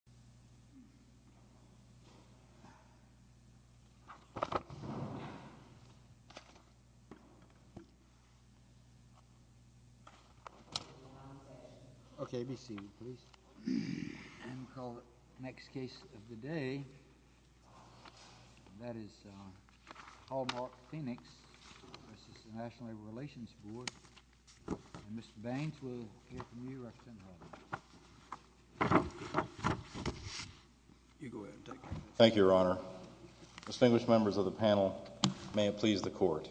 3, L.L.C. v. NLRB Thank you, Your Honor. Distinguished members of the panel, may it please the Court.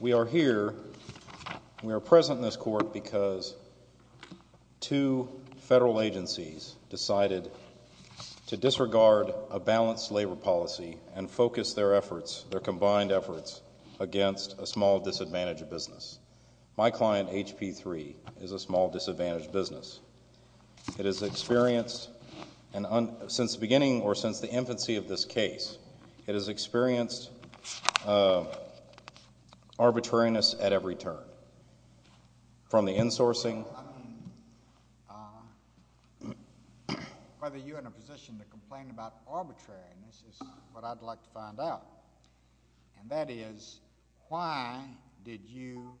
We are here, we are present in this court because two federal agencies decided to disregard a balanced labor policy and focus their efforts, their combined efforts, against a small disadvantaged business. My client, H.P. 3, is a small disadvantaged business. It has experienced, since the beginning or since the infancy of this case, it has experienced arbitrariness at every turn. From the insourcing, whether you're in a position to complain about arbitrariness is what I'd like to find out. And that is, why did you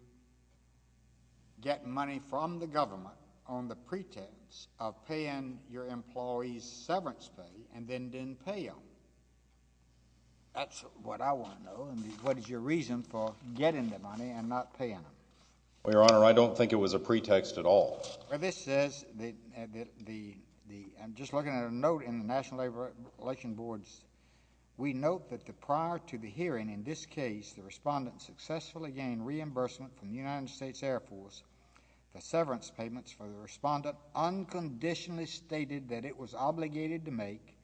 get money from the government on the pretext of paying your employees severance pay and then didn't pay them? That's what I want to know, and what is your reason for getting the money and not paying them? Well, Your Honor, I don't think it was a pretext at all. Well, this says, just looking at a note in the National Labor Relations Boards, we note that prior to the hearing in this case, the respondent successfully gained reimbursement from the United States Air Force for severance payments for the respondent unconditionally stated that it was obligated to make,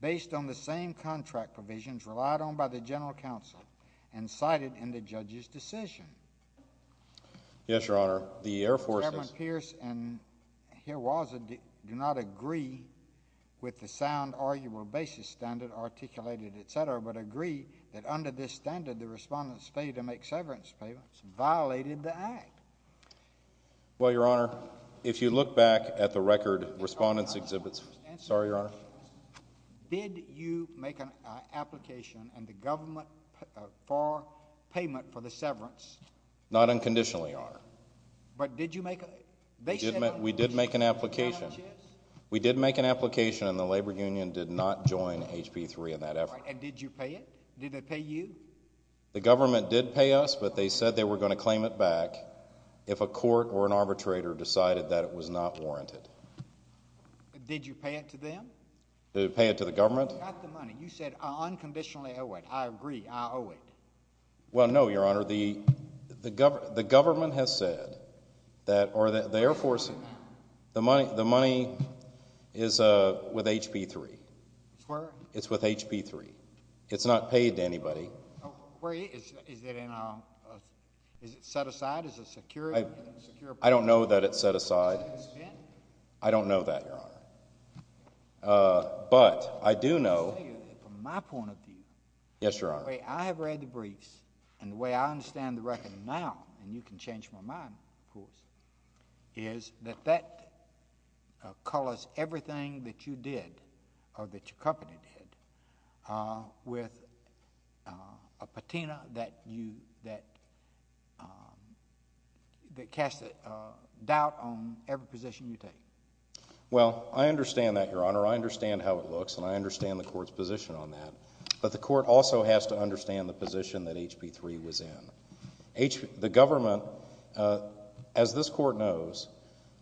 based on the same contract provisions relied on by the General Counsel and cited in the judge's decision. Yes, Your Honor. The Air Force does not agree with the sound arguable basis standard articulated, et cetera, but agree that under this standard, the respondent's failure to make severance payments violated the act. Well, Your Honor, if you look back at the record, respondent's exhibits, sorry, Your Honor. Did you make an application and the government for payment for the severance? Not unconditionally, Your Honor. But did you make a, they said... We did make an application. We did make an application, and the labor union did not join HP3 in that effort. And did you pay it? Did they pay you? The government did pay us, but they said they were going to claim it back if a court or an arbitrator decided that it was not warranted. Did you pay it to them? Did we pay it to the government? You got the money. You said, I unconditionally owe it. I agree. I owe it. Well, no, Your Honor. The government has said that, or the Air Force, the money is with HP3. It's where? It's with HP3. It's not paid to anybody. Is it set aside? Is it secured? I don't know that it's set aside. I don't know that, Your Honor. But I do know... Let me tell you from my point of view. Yes, Your Honor. The way I have read the briefs and the way I understand the record now, and you can change my mind, of course, is that that colors everything that you did or that your company did with a patina that casts a doubt on every position you take. Well, I understand that, Your Honor. I understand how it looks, and I understand the court's position on that. But the court also has to understand the position that HP3 was in. The government, as this court knows,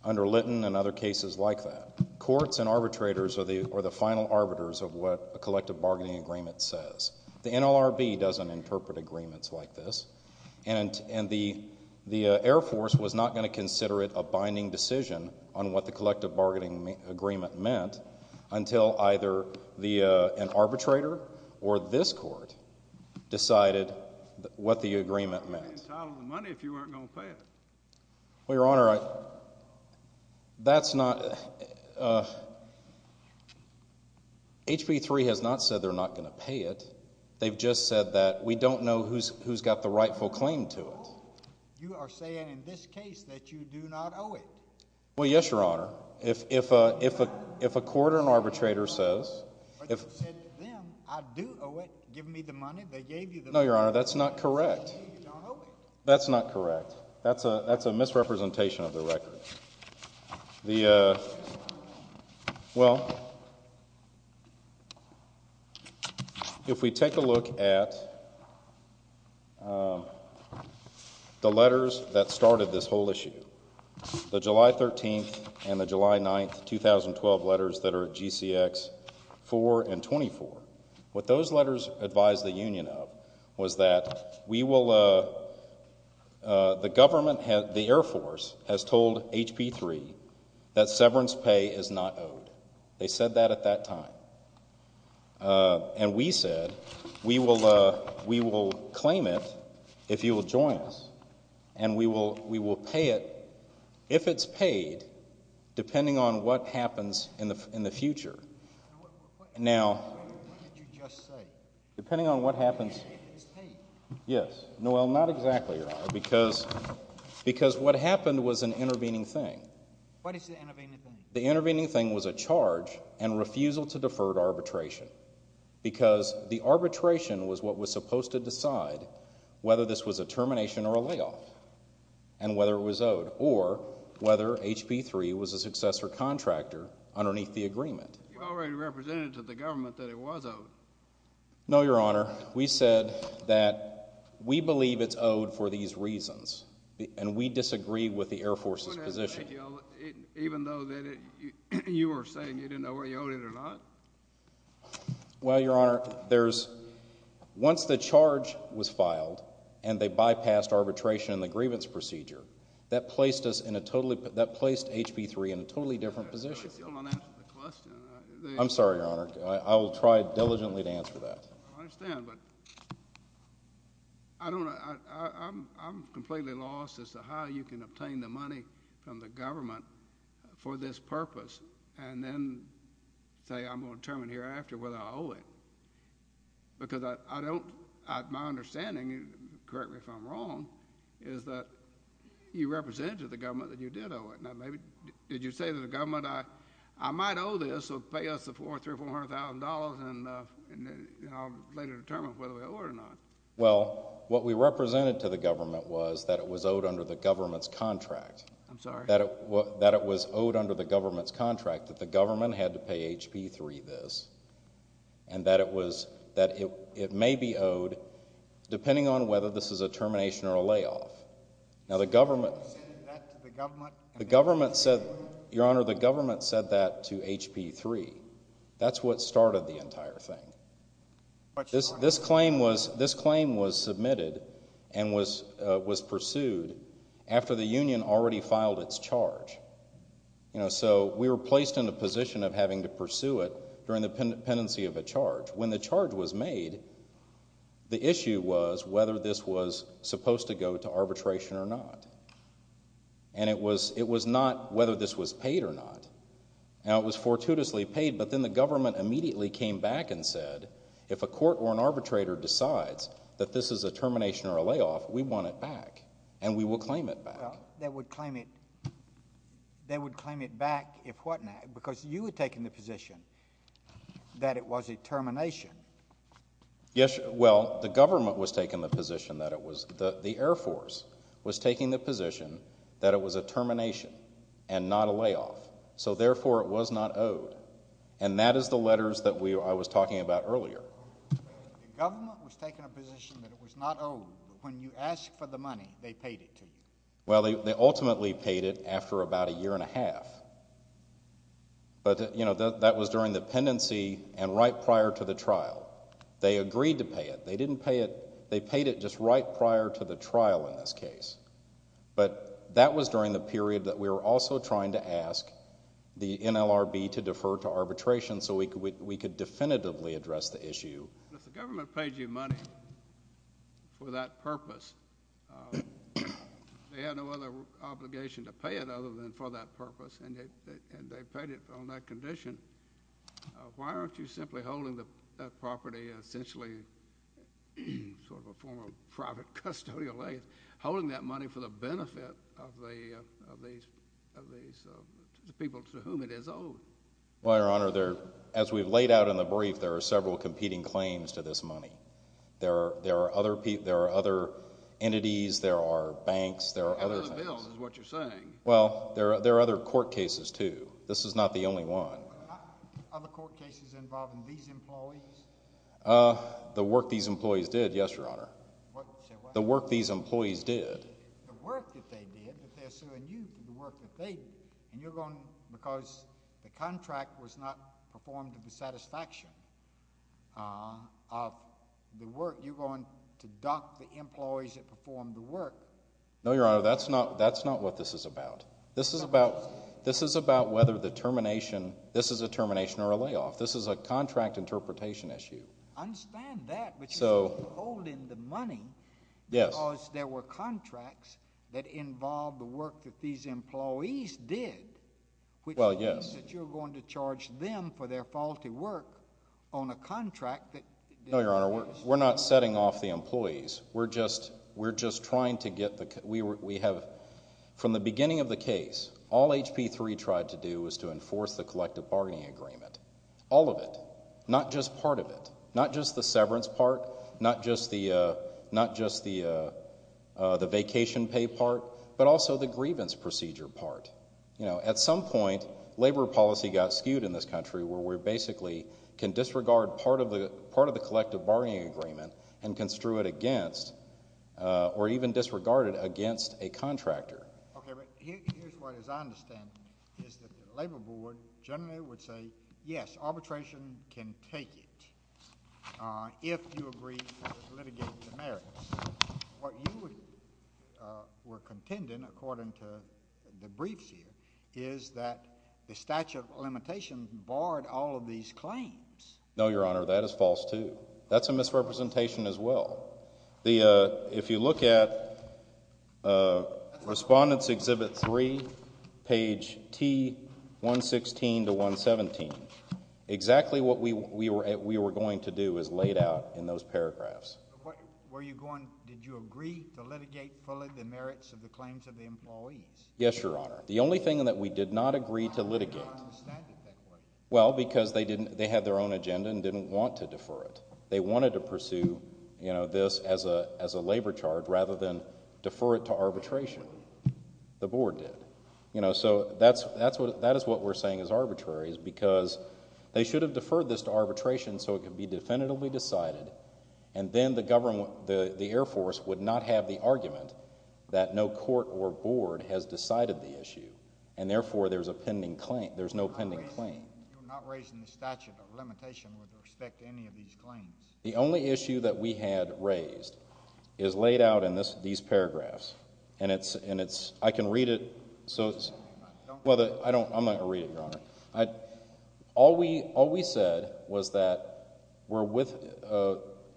under Litton and other cases like that, courts and arbitrators are the final arbiters of what a collective bargaining agreement says. The NLRB doesn't interpret agreements like this, and the Air Force was not going to consider it a binding decision on what the collective bargaining agreement meant until either an arbitrator or this court decided what the agreement meant. You wouldn't be entitled to the money if you weren't going to pay it. Well, Your Honor, that's not... HP3 has not said they're not going to pay it. They've just said that we don't know who's got the rightful claim to it. You are saying in this case that you do not owe it. Well, yes, Your Honor. If a court or an arbitrator says... But you said to them, I do owe it. Give me the money, they gave you the money. No, Your Honor, that's not correct. You don't owe it. That's not correct. That's a misrepresentation of the record. Well, if we take a look at the letters that started this whole issue, the July 13th and the July 9th, 2012 letters that are GCX 4 and 24, what those letters advised the union of was that we will... The government, the Air Force has told HP3 that severance pay is not owed. They said that at that time. And we said we will claim it if you will join us and we will pay it if it's paid depending on what happens in the future. Now... What did you just say? Depending on what happens... If it's paid. Yes. No, well, not exactly, Your Honor, because what happened was an intervening thing. What is the intervening thing? The intervening thing was a charge and refusal to defer arbitration because the arbitration was what was supposed to decide whether this was a termination or a layoff and whether it was owed or whether HP3 was a successor contractor underneath the agreement. You already represented to the government that it was owed. No, Your Honor. We said that we believe it's owed for these reasons, and we disagree with the Air Force's position. Even though you were saying you didn't know whether you owed it or not? Well, Your Honor, once the charge was filed and they bypassed arbitration in the grievance procedure, that placed HP3 in a totally different position. I still don't understand the question. I'm sorry, Your Honor. I will try diligently to answer that. I understand, but I'm completely lost as to how you can obtain the money from the government for this purpose and then say I'm going to determine hereafter whether I owe it. Because my understanding, correct me if I'm wrong, is that you represented to the government that you did owe it. Now, did you say to the government, I might owe this so pay us the $400,000 or $300,000 or $400,000 and I'll later determine whether we owe it or not? Well, what we represented to the government was that it was owed under the government's contract. I'm sorry. That it was owed under the government's contract, that the government had to pay HP3 this, and that it may be owed depending on whether this is a termination or a layoff. Now, the government said that to HP3. That's what started the entire thing. This claim was submitted and was pursued after the union already filed its charge. So we were placed in a position of having to pursue it during the pendency of a charge. When the charge was made, the issue was whether this was supposed to go to arbitration or not. And it was not whether this was paid or not. Now, it was fortuitously paid, but then the government immediately came back and said, if a court or an arbitrator decides that this is a termination or a layoff, we want it back, and we will claim it back. They would claim it back if what now? Because you had taken the position that it was a termination. Yes, well, the government was taking the position that it was. The Air Force was taking the position that it was a termination and not a layoff. So, therefore, it was not owed. And that is the letters that I was talking about earlier. The government was taking a position that it was not owed, but when you asked for the money, they paid it to you. Well, they ultimately paid it after about a year and a half. But, you know, that was during the pendency and right prior to the trial. They agreed to pay it. They didn't pay it. They paid it just right prior to the trial in this case. But that was during the period that we were also trying to ask the NLRB to defer to arbitration so we could definitively address the issue. If the government paid you money for that purpose, they had no other obligation to pay it other than for that purpose, and they paid it on that condition, why aren't you simply holding the property, essentially sort of a form of private custodial land, holding that money for the benefit of the people to whom it is owed? Well, Your Honor, as we've laid out in the brief, there are several competing claims to this money. There are other entities. There are banks. How about the bills is what you're saying. Well, there are other court cases, too. This is not the only one. Other court cases involving these employees? The work these employees did, yes, Your Honor. The work these employees did. The work that they did, but they're suing you for the work that they did. And you're going to, because the contract was not performed to the satisfaction of the work, you're going to dock the employees that performed the work. No, Your Honor, that's not what this is about. This is about whether the termination, this is a termination or a layoff. This is a contract interpretation issue. I understand that, but you're not holding the money because there were contracts that involved the work that these employees did, which means that you're going to charge them for their faulty work on a contract. No, Your Honor, we're not setting off the employees. We're just trying to get the, we have, from the beginning of the case, all HP3 tried to do was to enforce the collective bargaining agreement. All of it, not just part of it, not just the severance part, not just the vacation pay part, but also the grievance procedure part. At some point, labor policy got skewed in this country where we basically can disregard part of the collective bargaining agreement and construe it against or even disregard it against a contractor. Okay, but here's what I understand is that the labor board generally would say, yes, arbitration can take it if you agree to litigate the merits. What you were contending, according to the briefs here, is that the statute of limitations barred all of these claims. No, Your Honor, that is false too. That's a misrepresentation as well. If you look at Respondents Exhibit 3, page T116 to 117, exactly what we were going to do is laid out in those paragraphs. Were you going, did you agree to litigate fully the merits of the claims of the employees? Yes, Your Honor. The only thing that we did not agree to litigate, well, because they had their own agenda and didn't want to defer it. They wanted to pursue this as a labor charge rather than defer it to arbitration. The board did. So that is what we're saying is arbitrary is because they should have deferred this to arbitration so it could be definitively decided, and then the Air Force would not have the argument that no court or board has decided the issue, and therefore there's a pending claim. There's no pending claim. You're not raising the statute of limitation with respect to any of these claims. The only issue that we had raised is laid out in these paragraphs, and it's, I can read it. Well, I'm not going to read it, Your Honor. All we said was that we're with,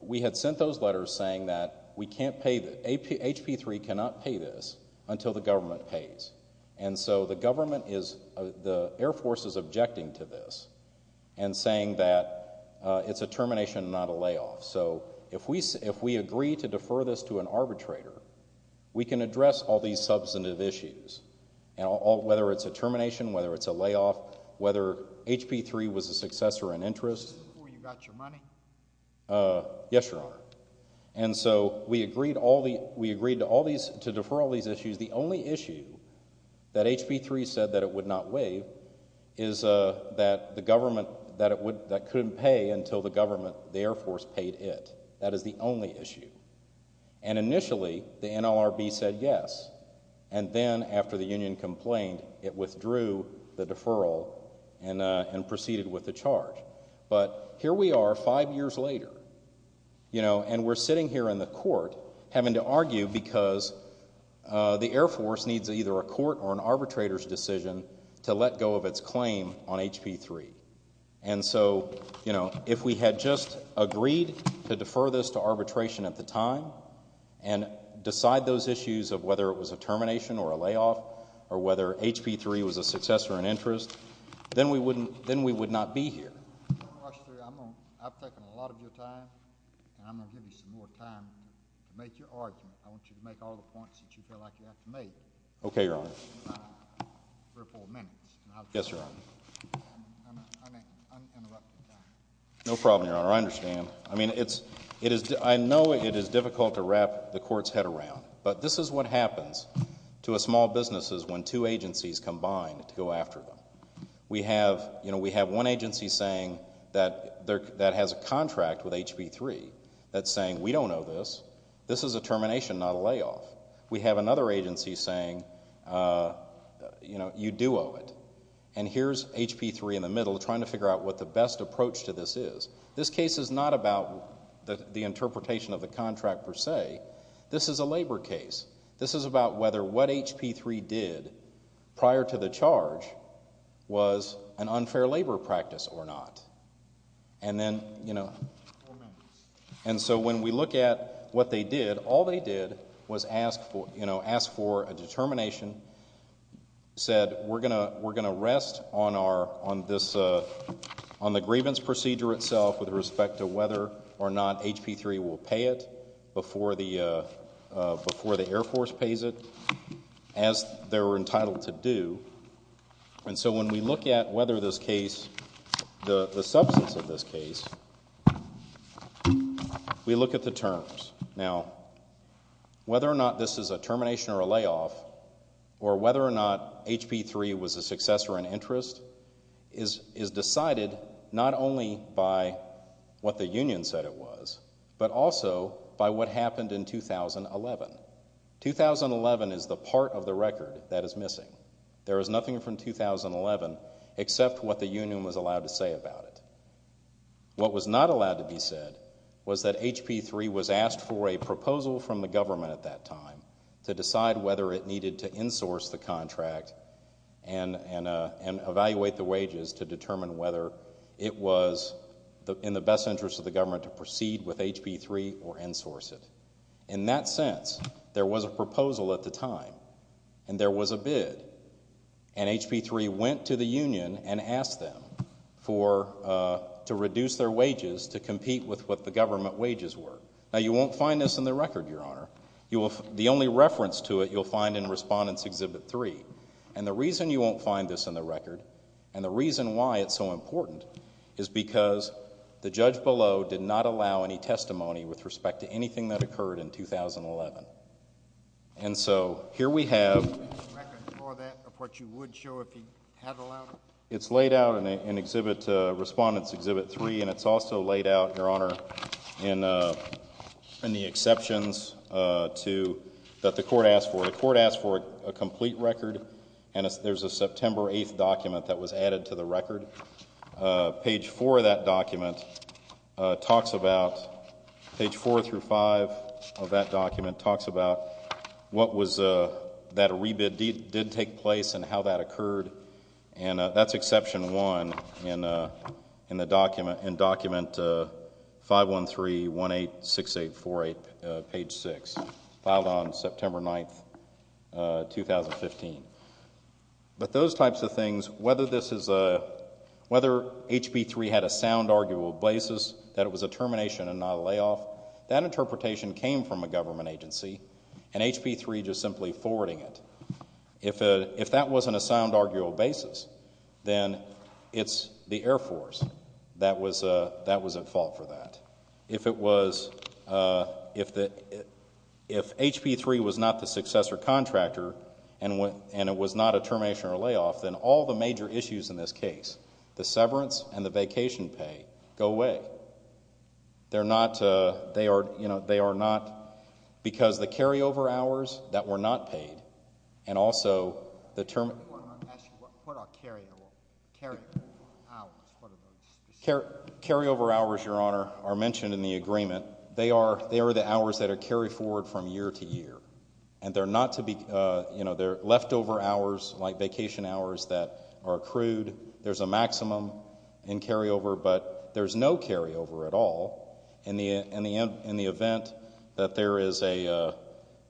we had sent those letters saying that we can't pay, that HP3 cannot pay this until the government pays. And so the government is, the Air Force is objecting to this and saying that it's a termination, not a layoff. So if we agree to defer this to an arbitrator, we can address all these substantive issues, whether it's a termination, whether it's a layoff, whether HP3 was a successor in interest. Before you got your money? Yes, Your Honor. And so we agreed to defer all these issues. The only issue that HP3 said that it would not waive is that the government couldn't pay until the government, the Air Force, paid it. That is the only issue. And initially the NLRB said yes, and then after the union complained, it withdrew the deferral and proceeded with the charge. But here we are five years later, you know, and we're sitting here in the court having to argue because the Air Force needs either a court or an arbitrator's decision to let go of its claim on HP3. And so, you know, if we had just agreed to defer this to arbitration at the time and decide those issues of whether it was a termination or a layoff or whether HP3 was a successor in interest, then we would not be here. I'm going to rush through. I've taken a lot of your time, and I'm going to give you some more time to make your argument. I want you to make all the points that you feel like you have to make. Okay, Your Honor. Three or four minutes. Yes, Your Honor. I'm interrupting. No problem, Your Honor. I understand. I mean, I know it is difficult to wrap the court's head around, but this is what happens to a small business when two agencies combine to go after them. We have one agency saying that has a contract with HP3 that's saying we don't owe this. This is a termination, not a layoff. We have another agency saying, you know, you do owe it. And here's HP3 in the middle trying to figure out what the best approach to this is. This case is not about the interpretation of the contract per se. This is a labor case. This is about whether what HP3 did prior to the charge was an unfair labor practice or not. And then, you know, and so when we look at what they did, all they did was ask for a determination, said we're going to rest on the grievance procedure itself with respect to whether or not HP3 will pay it before the Air Force pays it, as they're entitled to do. And so when we look at whether this case, the substance of this case, we look at the terms. Now, whether or not this is a termination or a layoff or whether or not HP3 was a success or an interest is decided not only by what the union said it was, but also by what happened in 2011. 2011 is the part of the record that is missing. There is nothing from 2011 except what the union was allowed to say about it. What was not allowed to be said was that HP3 was asked for a proposal from the government at that time to decide whether it needed to insource the contract and evaluate the wages to determine whether it was in the best interest of the government to proceed with HP3 or insource it. In that sense, there was a proposal at the time, and there was a bid. And HP3 went to the union and asked them to reduce their wages to compete with what the government wages were. Now, you won't find this in the record, Your Honor. The only reference to it you'll find in Respondents Exhibit 3. And the reason you won't find this in the record and the reason why it's so important is because the judge below did not allow any testimony with respect to anything that occurred in 2011. And so here we have... It's laid out in Respondents Exhibit 3, and it's also laid out, Your Honor, in the exceptions that the court asked for. The court asked for a complete record, and there's a September 8th document that was added to the record. Page 4 of that document talks about... Page 4 through 5 of that document talks about what was...that a rebid did take place and how that occurred. And that's Exception 1 in Document 513186848, Page 6, filed on September 9th, 2015. But those types of things, whether this is a... whether HB 3 had a sound arguable basis that it was a termination and not a layoff, that interpretation came from a government agency and HB 3 just simply forwarding it. If that wasn't a sound arguable basis, then it's the Air Force that was at fault for that. If it was... If HB 3 was not the successor contractor and it was not a termination or layoff, then all the major issues in this case, the severance and the vacation pay, go away. They're not...they are not... Because the carryover hours that were not paid and also the term... What are carryover hours? Carryover hours, Your Honor, are mentioned in the agreement. They are the hours that are carried forward from year to year, and they're not to be... They're leftover hours, like vacation hours, that are accrued. There's a maximum in carryover, but there's no carryover at all in the event that there is a...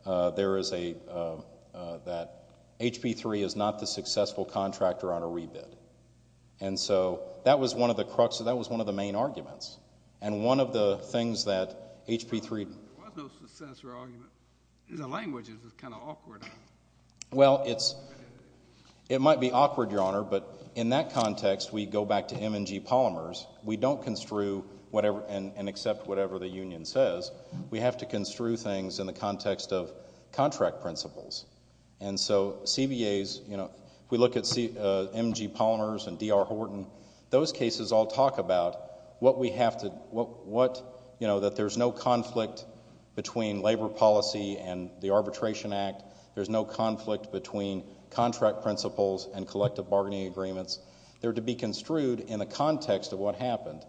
that HB 3 is not the successful contractor on a rebid. And so that was one of the main arguments. And one of the things that HB 3... There was no successor argument. The language is kind of awkward. Well, it's... It might be awkward, Your Honor, but in that context, we go back to M&G Polymers. We don't construe whatever... and accept whatever the union says. We have to construe things in the context of contract principles. And so CBAs, you know, if we look at M&G Polymers and D.R. Horton, those cases all talk about what we have to... what, you know, that there's no conflict between labor policy and the Arbitration Act. There's no conflict between contract principles and collective bargaining agreements. They're to be construed in the context of what happened,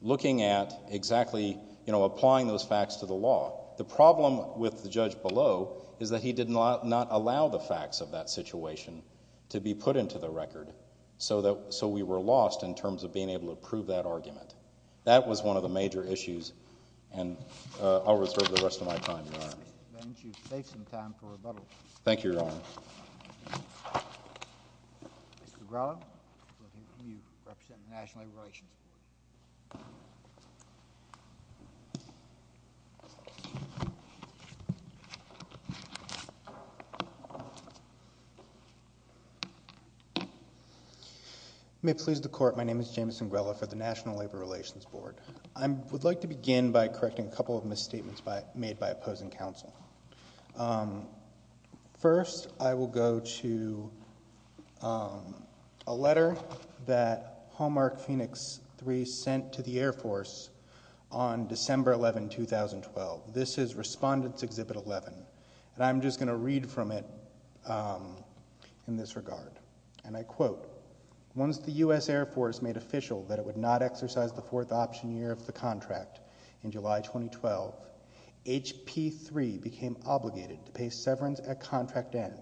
looking at exactly, you know, applying those facts to the law. The problem with the judge below is that he did not allow the facts of that situation to be put into the record, so we were lost in terms of being able to prove that argument. That was one of the major issues, and I'll reserve the rest of my time, Your Honor. Mr. Baines, you've saved some time for rebuttal. Thank you, Your Honor. Mr. Urella, you represent the National Labor Relations Board. You may please the Court. My name is James Urella for the National Labor Relations Board. I would like to begin by correcting a couple of misstatements made by opposing counsel. First, I will go to a letter that Hallmark Phoenix 3 sent to the Air Force on December 11, 2012. This is Respondents Exhibit 11, and I'm just going to read from it in this regard. And I quote, Once the U.S. Air Force made official that it would not exercise the fourth option year of the contract in July 2012, HP3 became obligated to pay severance at contract end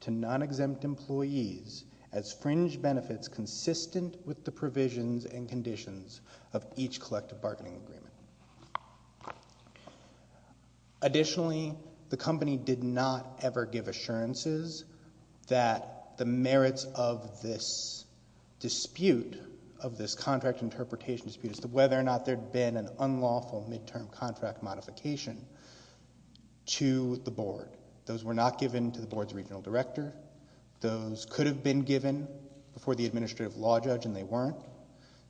to non-exempt employees as fringe benefits consistent with the provisions and conditions of each collective bargaining agreement. Additionally, the company did not ever give assurances that the merits of this dispute, of this contract interpretation dispute, as to whether or not there had been an unlawful midterm contract modification to the Board. Those were not given to the Board's regional director. Those could have been given before the administrative law judge, and they weren't.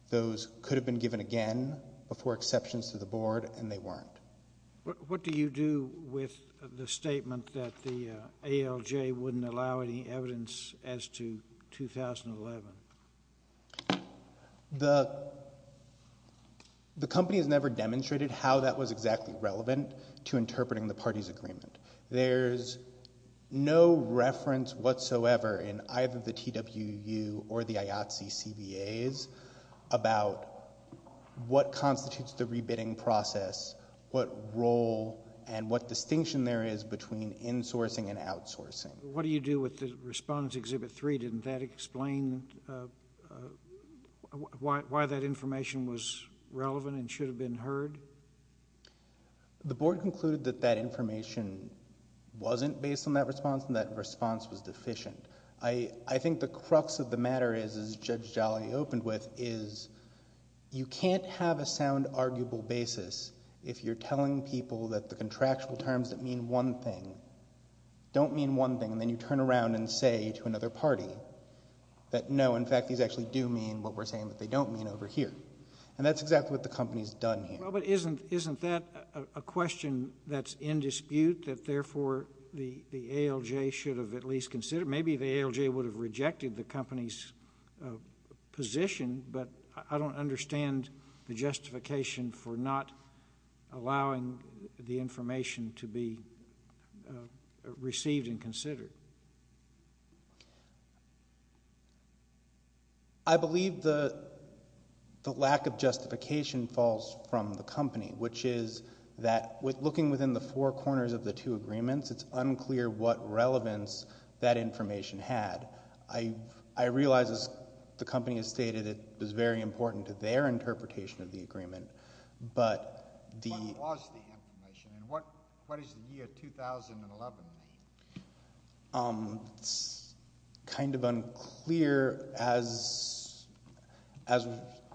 Those could have been given again before exceptions to the Board, and they weren't. What do you do with the statement that the ALJ wouldn't allow any evidence as to 2011? The company has never demonstrated how that was exactly relevant to interpreting the parties' agreement. There's no reference whatsoever in either the TWU or the IATSE CBAs about what constitutes the rebidding process, what role and what distinction there is between insourcing and outsourcing. What do you do with the response to Exhibit 3? Didn't that explain why that information was relevant and should have been heard? The Board concluded that that information wasn't based on that response, and that response was deficient. I think the crux of the matter is, as Judge Jolly opened with, is you can't have a sound, arguable basis if you're telling people that the contractual terms that mean one thing don't mean one thing, and then you turn around and say to another party that, no, in fact, these actually do mean what we're saying that they don't mean over here. And that's exactly what the company's done here. Well, but isn't that a question that's in dispute, that therefore the ALJ should have at least considered? Maybe the ALJ would have rejected the company's position, but I don't understand the justification for not allowing the information to be received and considered. I believe the lack of justification falls from the company, which is that looking within the four corners of the two agreements, it's unclear what relevance that information had. I realize, as the company has stated, it was very important to their interpretation of the agreement, but the... What was the information, and what does the year 2011 mean? It's kind of unclear, as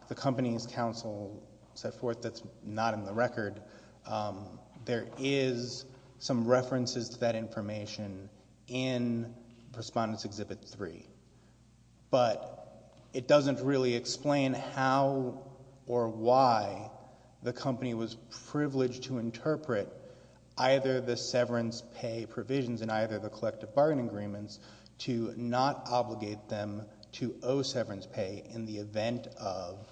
the company's counsel set forth, that's not in the record. There is some references to that information in Respondents Exhibit 3, but it doesn't really explain how or why the company was privileged to interpret either the severance pay provisions in either the collective bargain agreements to not obligate them to owe severance pay in the event of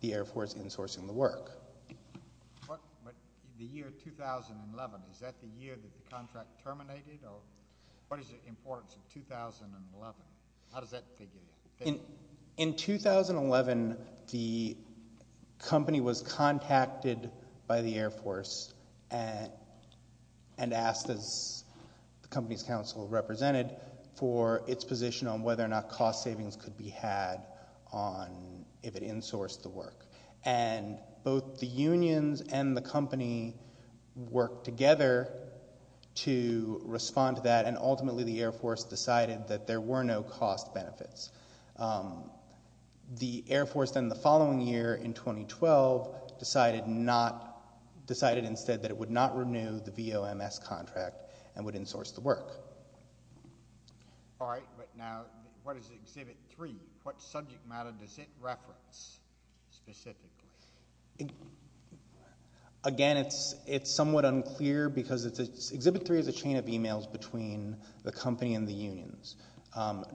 the Air Force insourcing the work. But the year 2011, is that the year that the contract terminated, or what is the importance of 2011? How does that figure in? In 2011, the company was contacted by the Air Force and asked, as the company's counsel represented, for its position on whether or not cost savings could be had if it insourced the work. And both the unions and the company worked together to respond to that, and ultimately the Air Force decided that there were no cost benefits. The Air Force then, the following year, in 2012, decided instead that it would not renew the VOMS contract and would insource the work. All right, but now, what is Exhibit 3? What subject matter does it reference specifically? Again, it's somewhat unclear, because Exhibit 3 is a chain of e-mails between the company and the unions,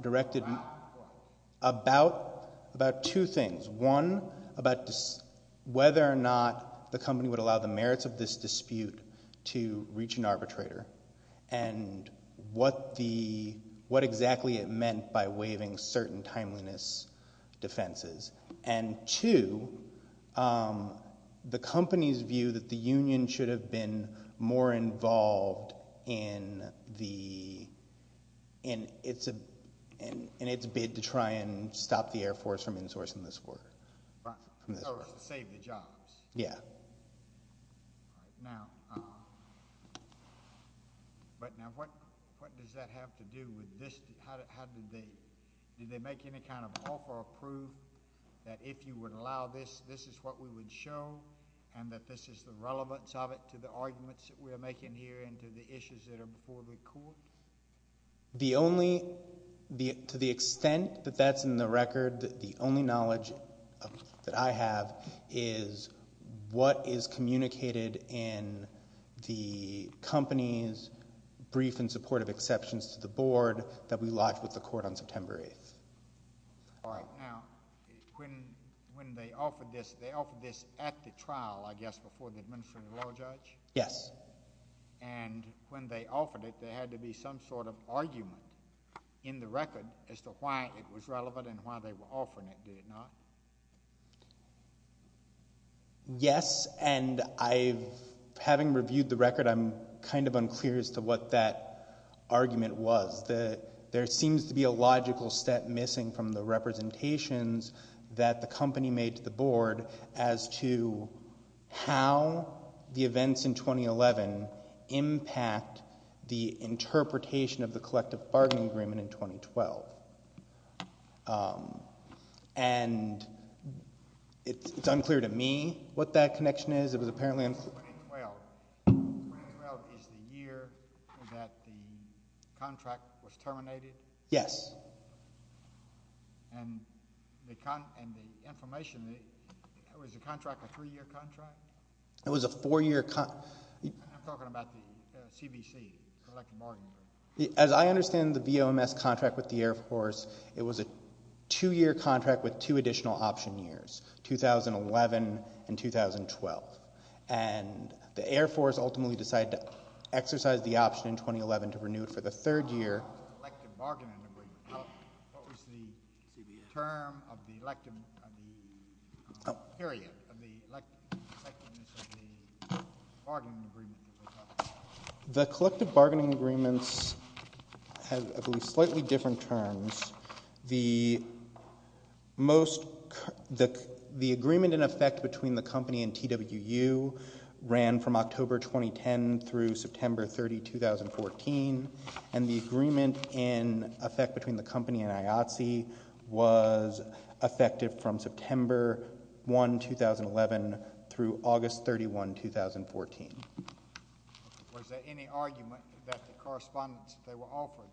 directed about two things. One, about whether or not the company would allow the merits of this dispute to reach an arbitrator, and what exactly it meant by waiving certain timeliness defenses. And two, the company's view that the union should have been more involved in its bid to try and stop the Air Force from insourcing this work. Oh, to save the jobs. Yeah. All right, now, what does that have to do with this? How did they, did they make any kind of offer or prove that if you would allow this, this is what we would show, and that this is the relevance of it to the arguments that we are making here and to the issues that are before the court? The only, to the extent that that's in the record, the only knowledge that I have is what is communicated in the company's brief in support of exceptions to the board that we lodged with the court on September 8th. All right, now, when they offered this, it was at the trial, I guess, before the administering law judge? Yes. And when they offered it, there had to be some sort of argument in the record as to why it was relevant and why they were offering it, did it not? Yes, and I've, having reviewed the record, I'm kind of unclear as to what that argument was. There seems to be a logical step missing from the representations that the company made to the board as to how the events in 2011 impact the interpretation of the collective bargaining agreement in 2012. And it's unclear to me what that connection is. It was apparently... 2012. 2012 is the year that the contract was terminated? Yes. And the information, was the contract a 3-year contract? It was a 4-year... I'm talking about the CBC, collective bargaining agreement. As I understand the VOMS contract with the Air Force, it was a 2-year contract with 2 additional option years, 2011 and 2012. And the Air Force ultimately decided to exercise the option in 2011 to renew it for the 3rd year. What was the term of the elective, of the period of the electiveness of the bargaining agreement that they talked about? The collective bargaining agreements have, I believe, slightly different terms. The most... The agreement in effect between the company and TWU ran from October 2010 through September 30, 2014, and the agreement in effect between the company and IATSE was effective from September 1, 2011, through August 31, 2014. Was there any argument that the correspondence that they were offered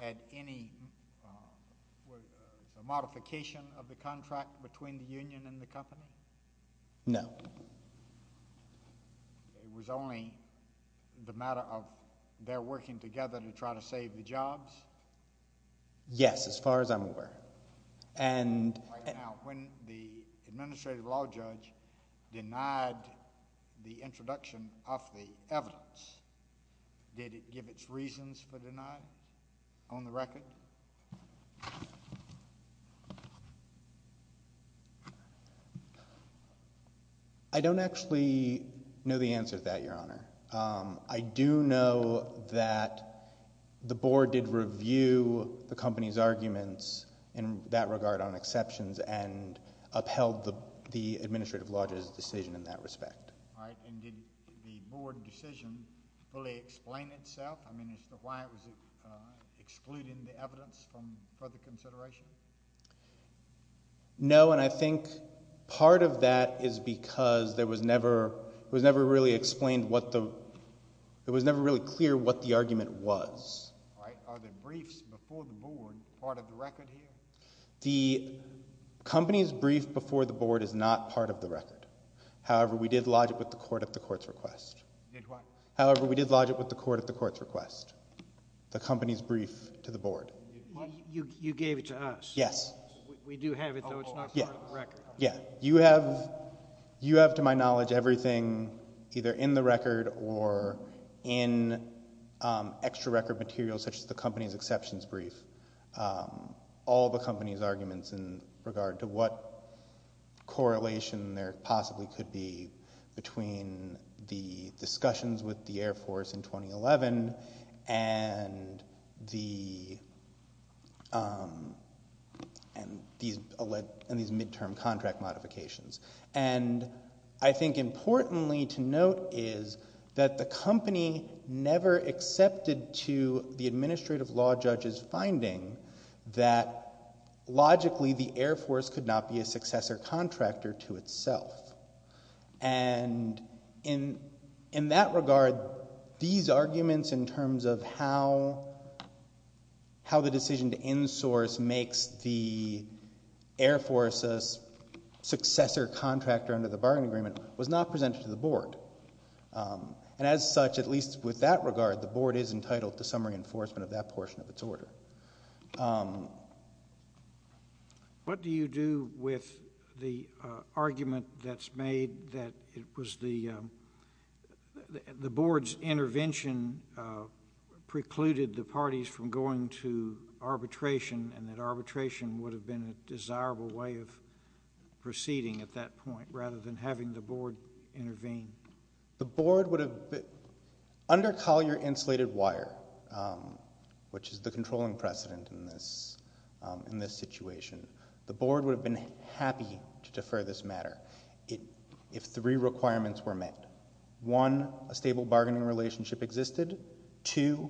had any... Was there a modification of the contract between the union and the company? No. It was only the matter of their working together to try to save the jobs? Yes, as far as I'm aware. Right now, when the administrative law judge denied the introduction of the evidence, did it give its reasons for denying on the record? I don't actually know the answer to that, Your Honor. I do know that the board did review the company's arguments in that regard on exceptions and upheld the administrative law judge's decision in that respect. All right, and did the board decision fully explain itself? I mean, is the... Why was it excluding the evidence from further consideration? No, and I think part of that is because there was never... It was never really explained what the... It was never really clear what the argument was. All right, are the briefs before the board part of the record here? The company's brief before the board is not part of the record. However, we did lodge it with the court at the court's request. You did what? However, we did lodge it with the court at the court's request. The company's brief to the board. You gave it to us. Yes. We do have it, though. It's not part of the record. Yeah, you have, to my knowledge, everything either in the record or in extra-record material such as the company's exceptions brief, all the company's arguments in regard to what correlation there possibly could be between the discussions with the Air Force in 2011 and these mid-term contract modifications. And I think importantly to note is that the company never accepted to the administrative law judge's finding that logically the Air Force could not be a successor contractor to itself. And in that regard, these arguments in terms of how the decision to insource makes the Air Force a successor contractor under the bargain agreement was not presented to the board. And as such, at least with that regard, the board is entitled to some reinforcement of that portion of its order. What do you do with the argument that's made that it was the board's intervention precluded the parties from going to arbitration and that arbitration would have been a desirable way of proceeding at that point rather than having the board intervene? The board would have... Under Collier Insulated Wire, which is the controlling precedent in this situation, the board would have been happy to defer this matter if three requirements were met. One, a stable bargaining relationship existed. Two,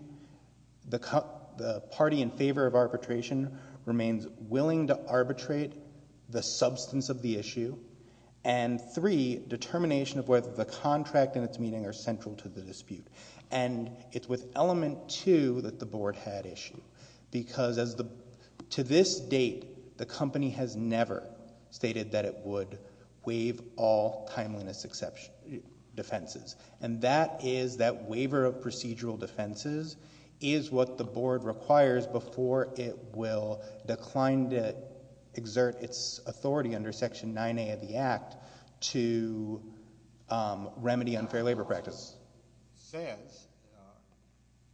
the party in favor of arbitration remains willing to arbitrate the substance of the issue. And three, determination of whether the contract and its meaning are central to the dispute. And it's with element two that the board had issue, because to this date, the company has never stated that it would waive all timeliness defenses. And that is, that waiver of procedural defenses is what the board requires before it will decline to exert its authority under Section 9A of the Act to remedy unfair labor practice. The board says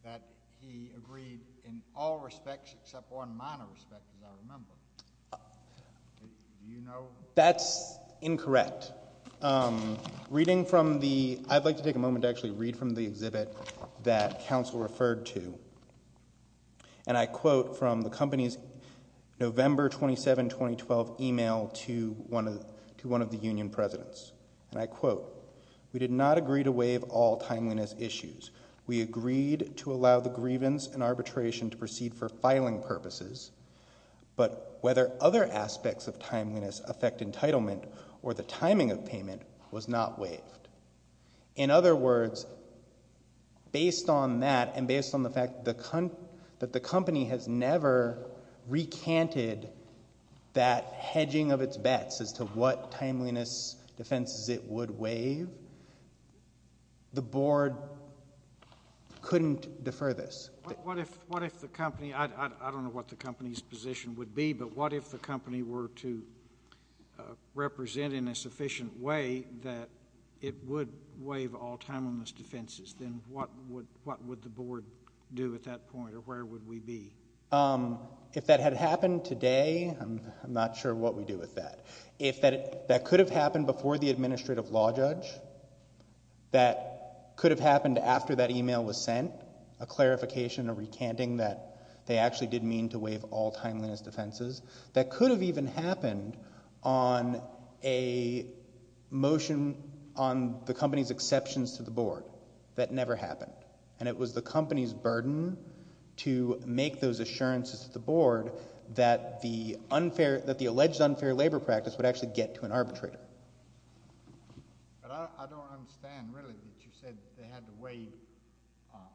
that he agreed in all respects except one minor respect, as I remember. Do you know...? That's incorrect. Reading from the... I'd like to take a moment to actually read from the exhibit that counsel referred to, and I quote from the company's November 27, 2012, email to one of the union presidents, and I quote, We did not agree to waive all timeliness issues. We agreed to allow the grievance and arbitration to proceed for filing purposes, but whether other aspects of timeliness affect entitlement or the timing of payment was not waived. In other words, based on that and based on the fact that the company has never recanted that hedging of its bets as to what timeliness defenses it would waive, the board couldn't defer this. What if the company... I don't know what the company's position would be, but what if the company were to represent in a sufficient way that it would waive all timeliness defenses? Then what would the board do at that point, or where would we be? If that had happened today, I'm not sure what we'd do with that. If that could have happened before the administrative law judge, that could have happened after that email was sent, a clarification, a recanting that they actually did mean to waive all timeliness defenses, that could have even happened on a motion on the company's exceptions to the board. That never happened. And it was the company's burden to make those assurances to the board that the alleged unfair labor practice would actually get to an arbitrator. But I don't understand, really, that you said they had to waive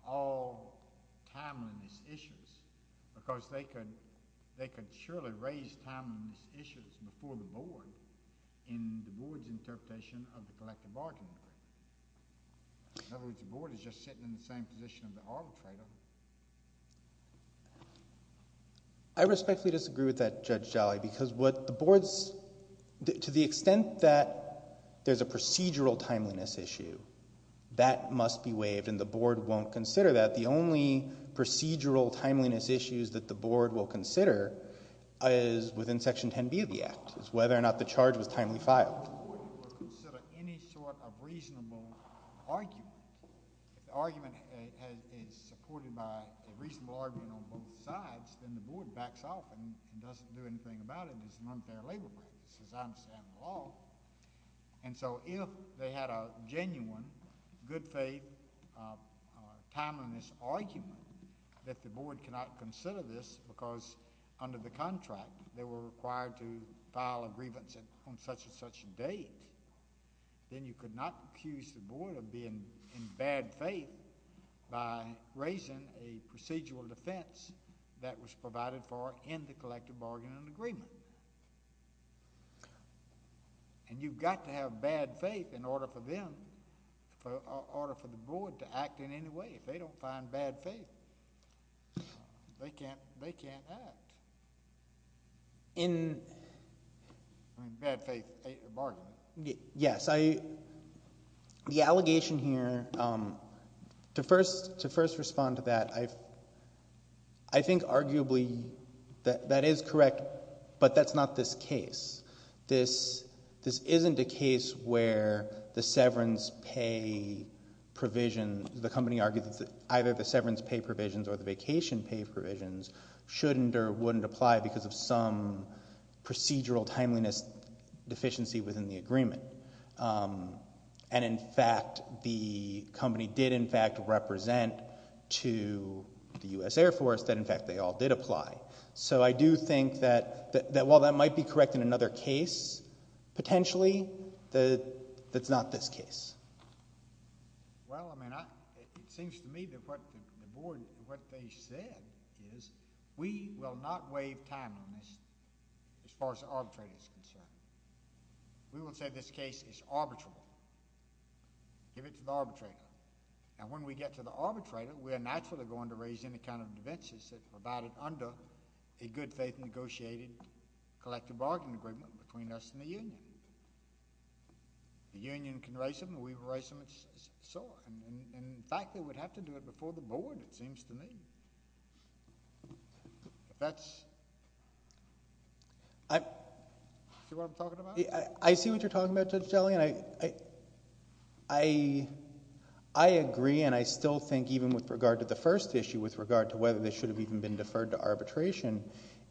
all timeliness issues because they could surely raise timeliness issues before the board in the board's interpretation of the collective bargaining agreement. In other words, the board is just sitting in the same position of the arbitrator. I respectfully disagree with that, Judge Jolly, because what the board's... To the extent that there's a procedural timeliness issue, that must be waived, and the board won't consider that. The only procedural timeliness issues that the board will consider is within Section 10B of the Act, is whether or not the charge was timely filed. The board will consider any sort of reasonable argument. If the argument is supported by a reasonable argument on both sides, then the board backs off and doesn't do anything about it as an unfair labor practice, as I understand the law. And so if they had a genuine, good-faith, timeliness argument that the board cannot consider this because under the contract they were required then you could not accuse the board of being in bad faith by raising a procedural defense that was provided for in the collective bargaining agreement. And you've got to have bad faith in order for them, in order for the board to act in any way. If they don't find bad faith, they can't act. In... In bad faith, a bargain. Yes. The allegation here... To first respond to that, I think arguably that that is correct, but that's not this case. This isn't a case where the severance pay provision... The company argues that either the severance pay provisions or the vacation pay provisions shouldn't or wouldn't apply because of some procedural timeliness deficiency within the agreement. And, in fact, the company did, in fact, represent to the U.S. Air Force that, in fact, they all did apply. So I do think that while that might be correct in another case, potentially, that's not this case. Well, I mean, it seems to me that what the board... We will not waive time on this as far as the arbitrator is concerned. We will say this case is arbitrable. Give it to the arbitrator. And when we get to the arbitrator, we are naturally going to raise any kind of defenses about it under a good-faith negotiated collective bargain agreement between us and the union. The union can raise them, and we will raise them, and so on. In fact, they would have to do it before the board, it seems to me. That's... See what I'm talking about? I see what you're talking about, Judge Jellian. I agree, and I still think, even with regard to the first issue, with regard to whether this should have even been deferred to arbitration,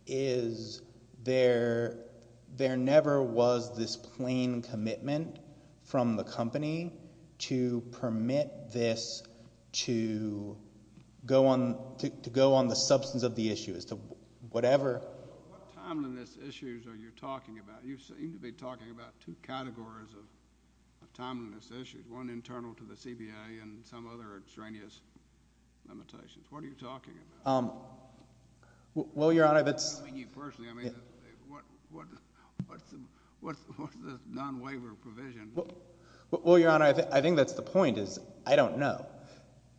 is there never was this plain commitment from the company to permit this to go on the substance of the issue, as to whatever... What timeliness issues are you talking about? You seem to be talking about two categories of timeliness issues, one internal to the CBA and some other extraneous limitations. What are you talking about? Well, Your Honor, that's... I mean, you personally. I mean, what's the non-waiver provision? Well, Your Honor, I think that's the point, is I don't know.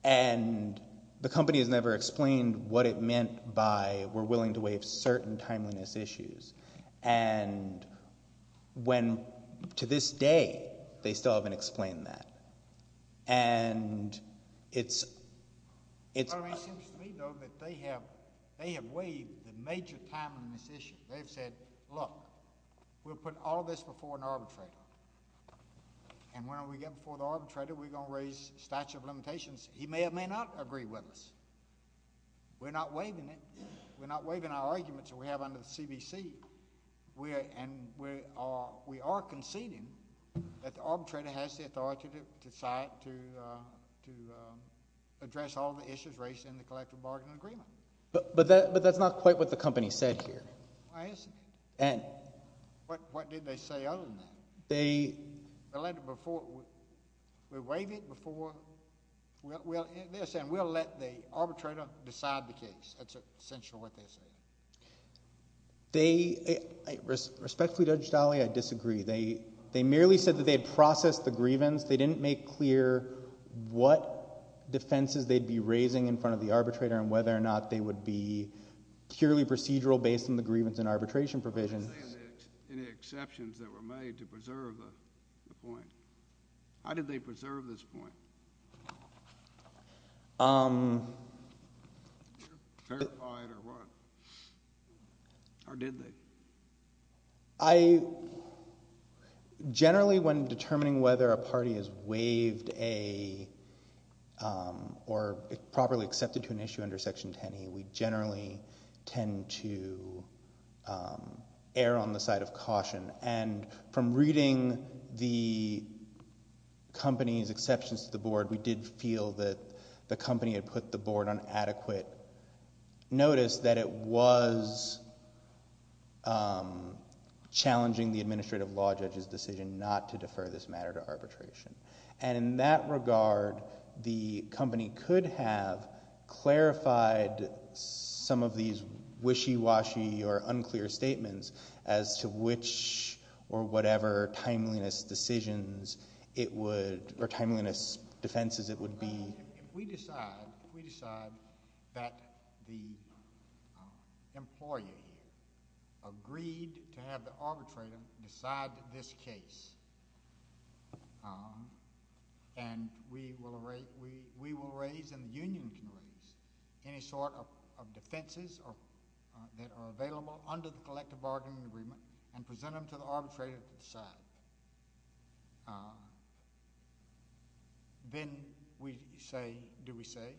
And the company has never explained what it meant by we're willing to waive certain timeliness issues. And to this day, they still haven't explained that. And it's... It seems to me, though, that they have waived the major timeliness issue. They've said, look, we'll put all this before an arbitrator. And when we get before the arbitrator, we're going to raise statute of limitations. He may or may not agree with us. We're not waiving it. We're not waiving our arguments that we have under the CBC. And we are conceding that the arbitrator has the authority to decide to address all the issues raised in the collective bargaining agreement. But that's not quite what the company said here. I understand. And... What did they say other than that? They... They let it before... We waive it before... They're saying we'll let the arbitrator decide the case. That's essentially what they're saying. They... Respectfully, Judge Daly, I disagree. They merely said that they had processed the grievance. They didn't make clear what defenses they'd be raising in front of the arbitrator and whether or not they would be purely procedural based on the grievance and arbitration provisions. What did they say of any exceptions that were made to preserve the point? How did they preserve this point? Um... Did they clarify it or what? Or did they? I... Generally, when determining whether a party has waived a... Or properly accepted to an issue under Section 10E, we generally tend to err on the side of caution. And from reading the company's exceptions to the board, we did feel that the company had put the board on adequate notice that it was challenging the administrative law judge's decision not to defer this matter to arbitration. And in that regard, the company could have clarified some of these wishy-washy or unclear statements as to which or whatever timeliness decisions it would... Or timeliness defenses it would be. If we decide that the employer agreed to have the arbitrator decide this case, and we will raise, and the union can raise, any sort of defenses that are available under the collective bargaining agreement and present them to the arbitrator to decide, then we say, do we say,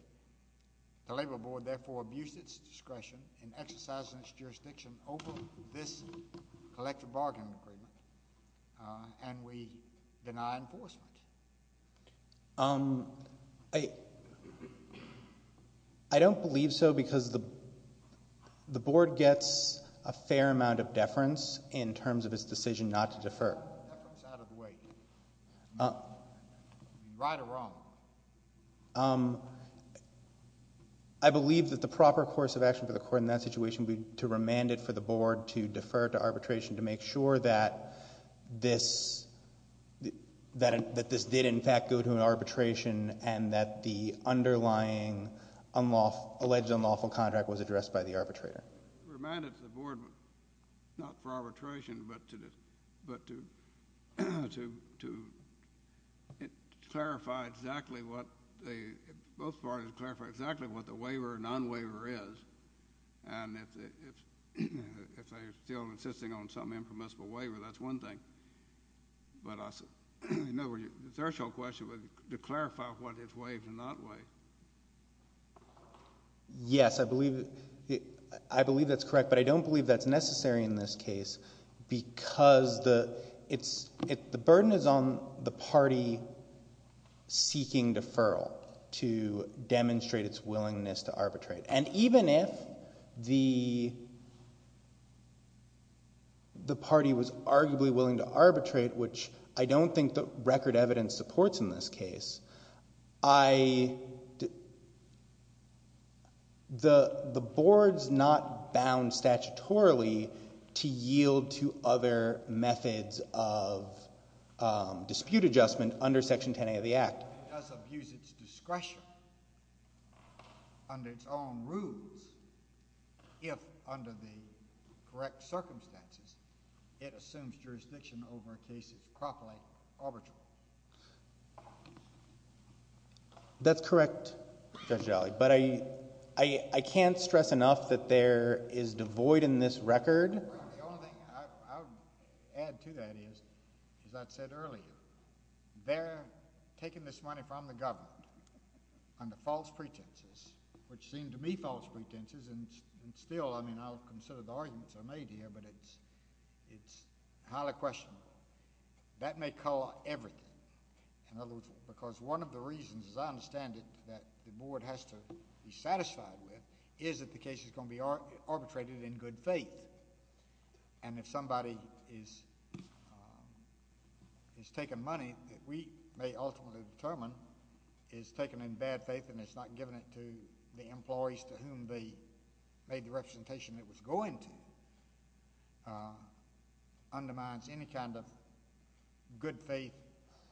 the labor board therefore abused its discretion in exercising its jurisdiction over this collective bargaining agreement and we deny enforcement? I don't believe so because the board gets a fair amount of deference in terms of its decision not to defer. Deference out of the way. Right or wrong? I believe that the proper course of action for the court in that situation would be to remand it for the board to defer to arbitration to make sure that this did in fact go to an arbitration and that the underlying alleged unlawful contract was addressed by the arbitrator. Remand it to the board not for arbitration but to clarify exactly what they... Both parties clarify exactly what the waiver or non-waiver is and if they're still insisting on some impermissible waiver, that's one thing. But the third question was to clarify what is waived and not waived. Yes, I believe that's correct, but I don't believe that's necessary in this case because the burden is on the party seeking deferral to demonstrate its willingness to arbitrate. And even if the party was arguably willing to arbitrate, which I don't think the record evidence supports in this case, the board's not bound statutorily to yield to other methods of dispute adjustment under Section 10A of the Act. It does abuse its discretion under its own rules if under the correct circumstances it assumes jurisdiction over a case is properly arbitrable. That's correct, Judge Daly, but I can't stress enough that there is devoid in this record... The only thing I would add to that is, as I said earlier, they're taking this money from the government under false pretenses, which seem to me false pretenses, and still, I mean, I'll consider the arguments I made here, but it's highly questionable. That may cover everything, because one of the reasons, as I understand it, that the board has to be satisfied with is that the case is going to be arbitrated in good faith. And if somebody is taking money that we may ultimately determine is taken in bad faith and has not given it to the employees to whom they made the representation it was going to, undermines any kind of good faith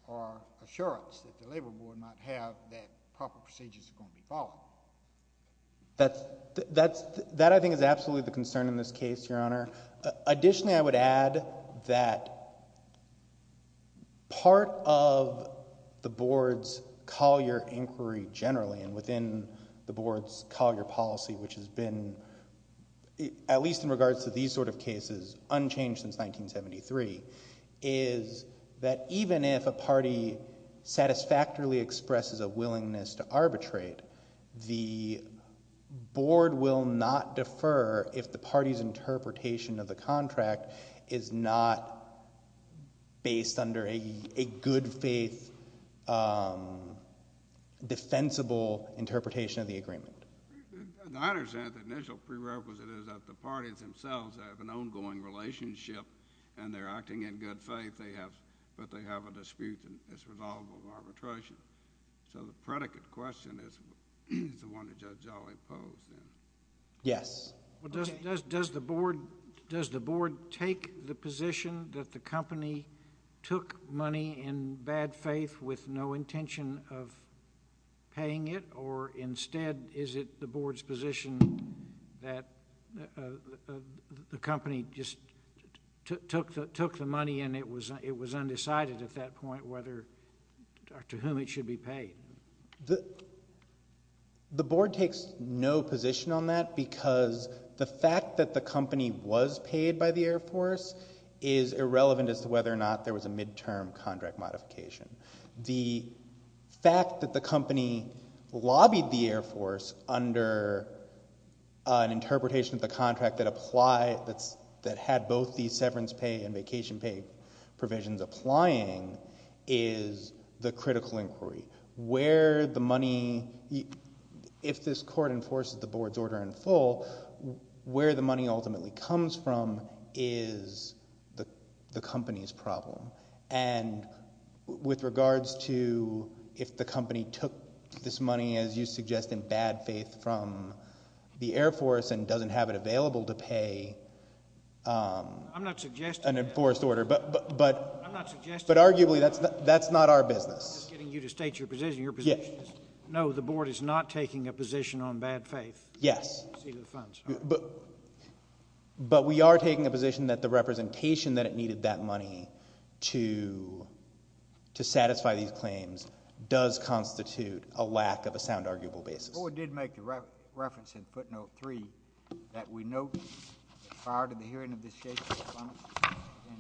or assurance that the Labor Board might have that proper procedures are going to be followed. That, I think, is absolutely the concern in this case, Your Honor. Additionally, I would add that... ..part of the board's Collier inquiry generally and within the board's Collier policy, which has been, at least in regards to these sort of cases, unchanged since 1973, is that even if a party satisfactorily expresses a willingness to arbitrate, the board will not defer if the party's interpretation of the contract is not based under a good faith... ..defensible interpretation of the agreement. I understand the initial prerequisite is that the parties themselves have an ongoing relationship and they're acting in good faith, but they have a dispute that's resolvable in arbitration. So the predicate question is the one that Judge Jolly posed. Yes. Does the board take the position that the company took money in bad faith with no intention of paying it, or instead is it the board's position that the company just took the money and it was undecided at that point to whom it should be paid? The board takes no position on that because the fact that the company was paid by the Air Force is irrelevant as to whether or not there was a mid-term contract modification. The fact that the company lobbied the Air Force under an interpretation of the contract that had both the severance pay and vacation pay provisions applying is the critical inquiry. Where the money... If this court enforces the board's order in full, where the money ultimately comes from is the company's problem. And with regards to if the company took this money, as you suggest, in bad faith from the Air Force and doesn't have it available to pay an enforced order, but arguably that's not our business. I'm just getting you to state your position. No, the board is not taking a position on bad faith. Yes. But we are taking a position that the representation that it needed that money to satisfy these claims does constitute a lack of a sound, arguable basis. The board did make the reference in footnote 3 that we note that prior to the hearing of this case, the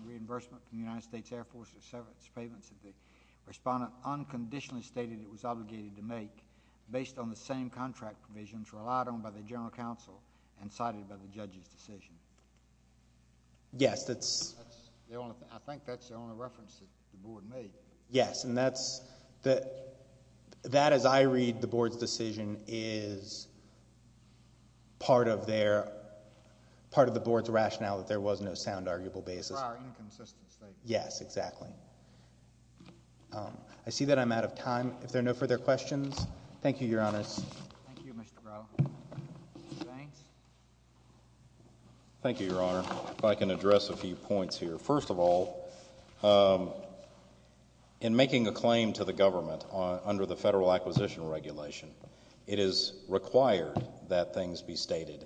reimbursement from the United States Air Force of severance payments that the respondent unconditionally stated it was obligated to make based on the same contract provisions relied on by the general counsel and cited by the judge's decision. Yes, that's... I think that's the only reference that the board made. Yes, and that's... That, as I read the board's decision, is part of the board's rationale that there was no sound, arguable basis. For our inconsistency. Yes, exactly. I see that I'm out of time. If there are no further questions, thank you, Your Honors. Thank you, Mr. Brough. Mr. Banks? Thank you, Your Honor. If I can address a few points here. First of all, in making a claim to the government under the Federal Acquisition Regulation, it is required that things be stated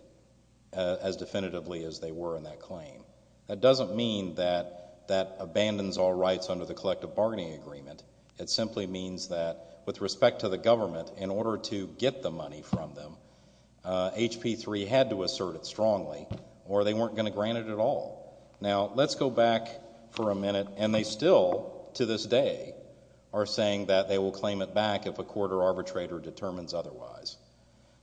as definitively as they were in that claim. That doesn't mean that that abandons all rights under the collective bargaining agreement. It simply means that with respect to the government, in order to get the money from them, HP3 had to assert it strongly or they weren't going to grant it at all. Now, let's go back for a minute, and they still, to this day, are saying that they will claim it back if a court or arbitrator determines otherwise.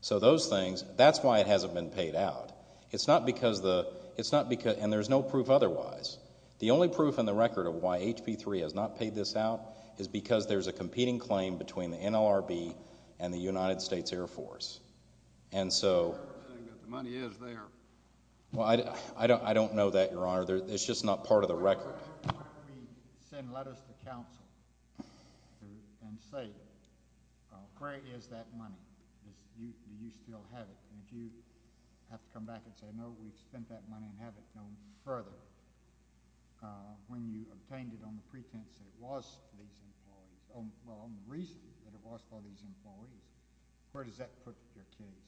So those things, that's why it hasn't been paid out. It's not because the... And there's no proof otherwise. The only proof in the record of why HP3 has not paid this out is because there's a competing claim between the NLRB and the United States Air Force. And so... The money is there. Well, I don't know that, Your Honour. It's just not part of the record. At what point do we send letters to counsel and say, where is that money? Do you still have it? And if you have to come back and say, no, we've spent that money and have it no further, when you obtained it on the pretense that it was for these employees, well, on the reason that it was for these employees, where does that put your case?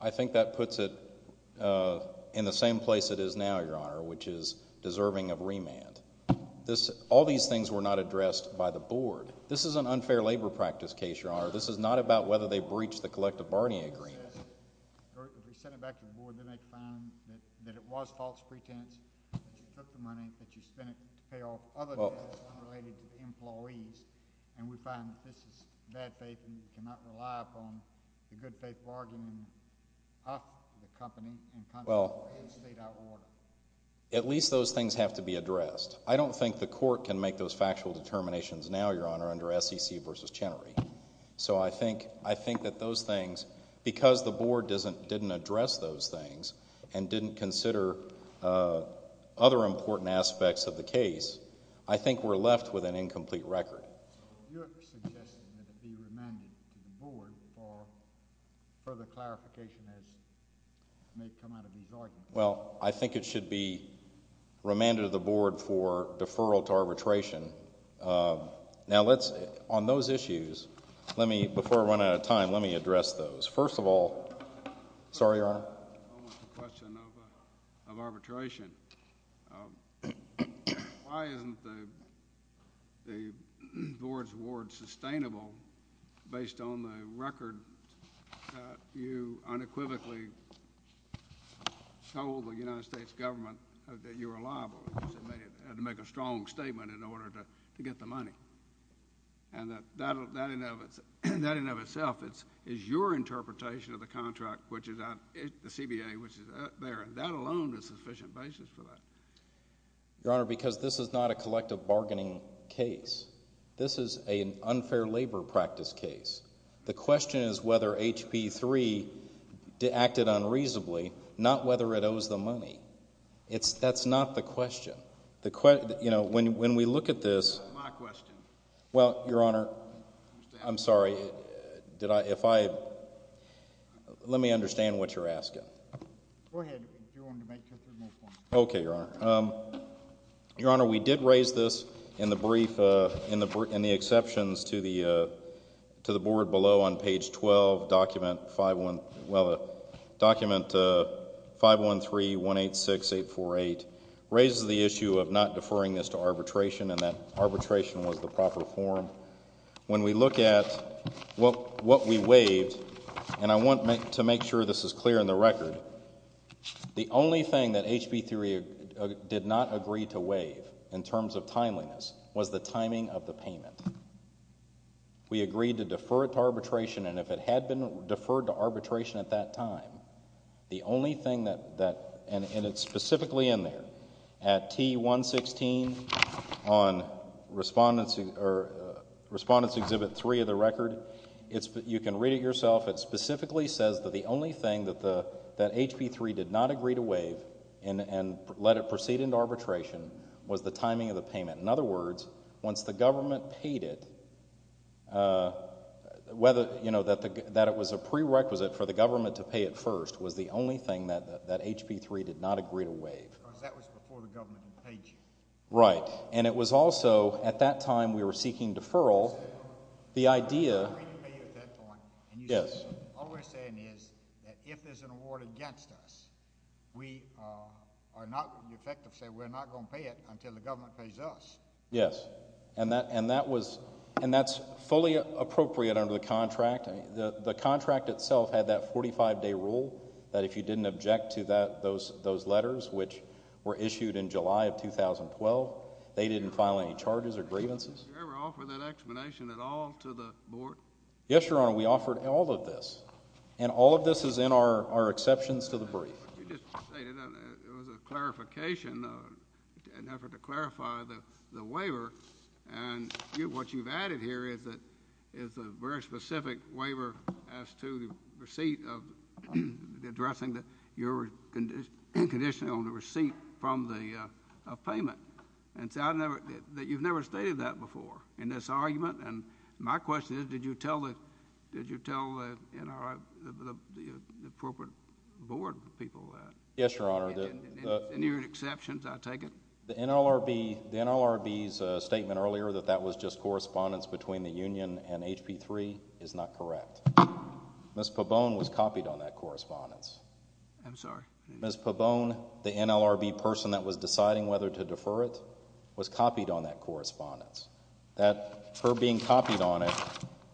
I think that puts it in the same place it is now, Your Honour, which is deserving of remand. All these things were not addressed by the board. This is an unfair labor practice case, Your Honour. This is not about whether they breached the collective bargaining agreement. If we send it back to the board, then they can find that it was false pretense, that you took the money, that you spent it to pay off other debts unrelated to the employees, and we find that this is bad faith and you cannot rely upon the good faith bargaining of the company in contract with a state outlaw. At least those things have to be addressed. I don't think the court can make those factual determinations now, Your Honour, under SEC v. Chenery. So I think that those things, because the board didn't address those things and didn't consider other important aspects of the case, I think we're left with an incomplete record. So you're suggesting that it be remanded to the board for further clarification as may come out of these arguments? Well, I think it should be remanded to the board for deferral to arbitration. Now, on those issues, before we run out of time, let me address those. First of all... Sorry, Your Honour. I want the question of arbitration. Why isn't the board's award sustainable based on the record that you unequivocally told the United States government that you were liable? Because it had to make a strong statement in order to get the money. And that in and of itself is your interpretation of the contract, the CBA, which is out there. That alone is a sufficient basis for that. Your Honour, because this is not a collective bargaining case. This is an unfair labor practice case. The question is whether HB 3 acted unreasonably, not whether it owes the money. That's not the question. You know, when we look at this... That's my question. Well, Your Honour, I'm sorry. Let me understand what you're asking. Go ahead, if you want to make your submission. Okay, Your Honour. Your Honour, we did raise this in the brief, in the exceptions to the board below on page 12, document 513186848, raises the issue of not deferring this to arbitration and that arbitration was the proper form. When we look at what we waived, and I want to make sure this is clear in the record, the only thing that HB 3 did not agree to waive in terms of timeliness was the timing of the payment. We agreed to defer it to arbitration, and if it had been deferred to arbitration at that time, the only thing that... And it's specifically in there. At T116 on Respondent's Exhibit 3 of the record, you can read it yourself. It specifically says that the only thing that HB 3 did not agree to waive and let it proceed into arbitration was the timing of the payment. In other words, once the government paid it, that it was a prerequisite for the government to pay it first was the only thing that HB 3 did not agree to waive. Because that was before the government had paid you. Right, and it was also at that time we were seeking deferral. The idea... Yes. All we're saying is that if there's an award against us, we are not going to pay it until the government pays us. Yes, and that's fully appropriate under the contract. The contract itself had that 45-day rule that if you didn't object to those letters, which were issued in July of 2012, they didn't file any charges or grievances. Did you ever offer that explanation at all to the board? Yes, Your Honor, we offered all of this, and all of this is in our exceptions to the brief. What you just stated, it was a clarification, an effort to clarify the waiver, and what you've added here is a very specific waiver as to the receipt of addressing that you're inconditioning on the receipt from the payment. You've never stated that before in this argument, and my question is did you tell the appropriate board people that? Yes, Your Honor. In your exceptions, I take it? The NLRB's statement earlier that that was just correspondence between the union and HP3 is not correct. Ms. Pabone was copied on that correspondence. I'm sorry? Ms. Pabone, the NLRB person that was deciding whether to defer it, was copied on that correspondence. Her being copied on it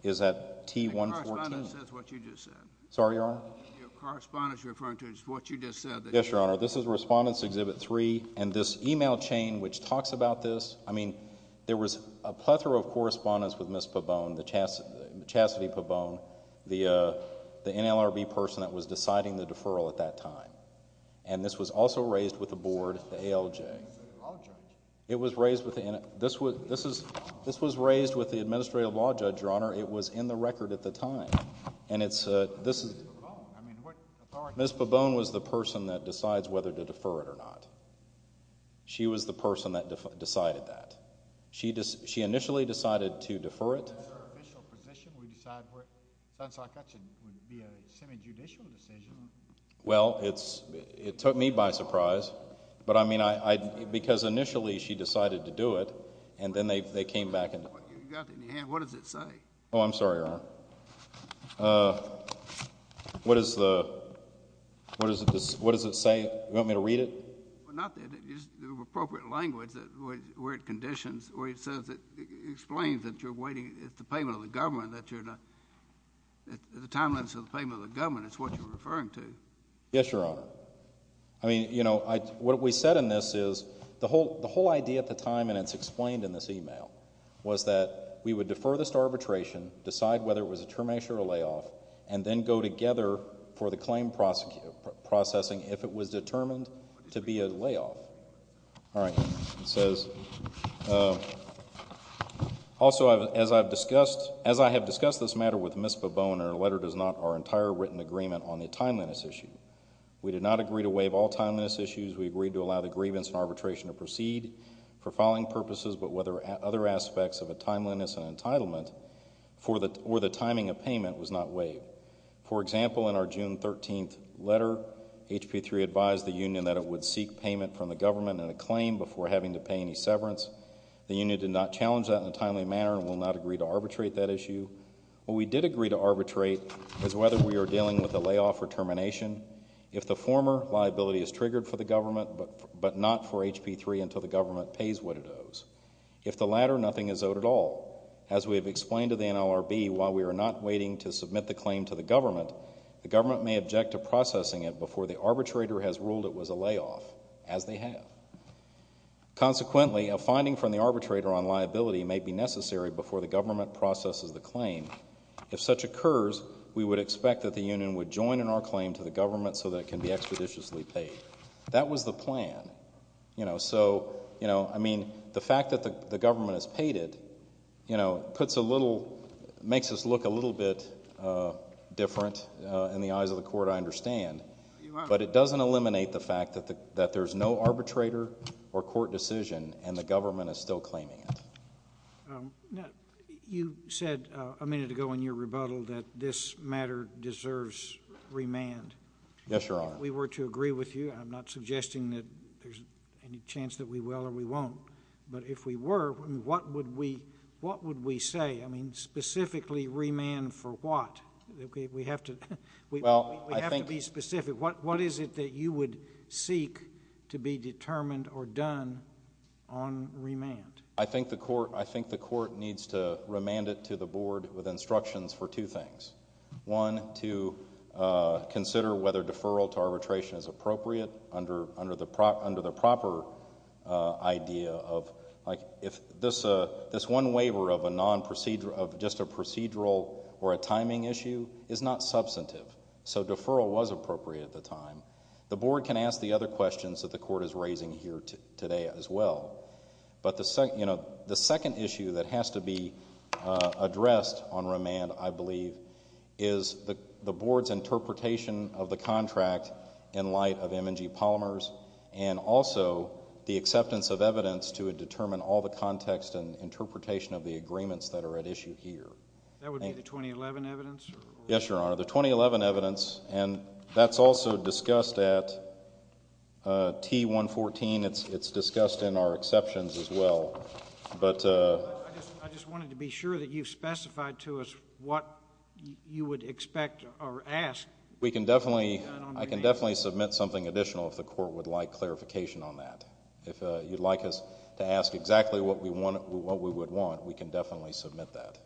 is at T-114. The correspondence is what you just said. Sorry, Your Honor? The correspondence you're referring to is what you just said. Yes, Your Honor, this is Respondents Exhibit 3, and this e-mail chain which talks about this, I mean there was a plethora of correspondence with Ms. Pabone, Chasity Pabone, the NLRB person that was deciding the deferral at that time, and this was also raised with the board, the ALJ. This was raised with the administrative law judge, Your Honor. It was in the record at the time. Ms. Pabone was the person that decides whether to defer it or not. She was the person that decided that. She initially decided to defer it. Well, it took me by surprise. But, I mean, because initially she decided to do it, and then they came back. You've got it in your hand. What does it say? Oh, I'm sorry, Your Honor. What does it say? Do you want me to read it? Well, not that. It's the appropriate language where it conditions, where it says it explains that you're waiting at the payment of the government, that you're not at the timeliness of the payment of the government. It's what you're referring to. Yes, Your Honor. I mean, you know, what we said in this is the whole idea at the time, and it's explained in this e-mail, was that we would defer this arbitration, decide whether it was a termination or a layoff, and then go together for the claim processing if it was determined to be a layoff. All right. It says, Also, as I have discussed this matter with Ms. Bobone, her letter does not our entire written agreement on the timeliness issue. We did not agree to waive all timeliness issues. We agreed to allow the grievance and arbitration to proceed for following purposes, but whether other aspects of a timeliness and entitlement or the timing of payment was not waived. For example, in our June 13th letter, HP3 advised the union that it would seek payment from the government and a claim before having to pay any severance. The union did not challenge that in a timely manner and will not agree to arbitrate that issue. What we did agree to arbitrate is whether we are dealing with a layoff or termination, if the former liability is triggered for the government but not for HP3 until the government pays what it owes. If the latter, nothing is owed at all. As we have explained to the NLRB, while we are not waiting to submit the claim to the government, the government may object to processing it before the arbitrator has ruled it was a layoff, as they have. Consequently, a finding from the arbitrator on liability may be necessary before the government processes the claim. If such occurs, we would expect that the union would join in our claim to the government so that it can be expeditiously paid. That was the plan. So, you know, I mean, the fact that the government has paid it, you know, puts a little, makes us look a little bit different in the eyes of the court, I understand. But it doesn't eliminate the fact that there's no arbitrator or court decision and the government is still claiming it. You said a minute ago in your rebuttal that this matter deserves remand. Yes, Your Honor. If we were to agree with you, I'm not suggesting that there's any chance that we will or we won't, but if we were, what would we say? I mean, specifically remand for what? We have to be specific. What is it that you would seek to be determined or done on remand? I think the court needs to remand it to the board with instructions for two things. One, to consider whether deferral to arbitration is appropriate under the proper idea of, like, if this one waiver of just a procedural or a timing issue is not substantive. So deferral was appropriate at the time. The board can ask the other questions that the court is raising here today as well. But the second issue that has to be addressed on remand, I believe, is the board's interpretation of the contract in light of M&G polymers and also the acceptance of evidence to determine all the context and interpretation of the agreements that are at issue here. That would be the 2011 evidence? Yes, Your Honor, the 2011 evidence, and that's also discussed at T-114. It's discussed in our exceptions as well. I just wanted to be sure that you specified to us what you would expect or ask. I can definitely submit something additional if the court would like clarification on that. If you'd like us to ask exactly what we would want, we can definitely submit that.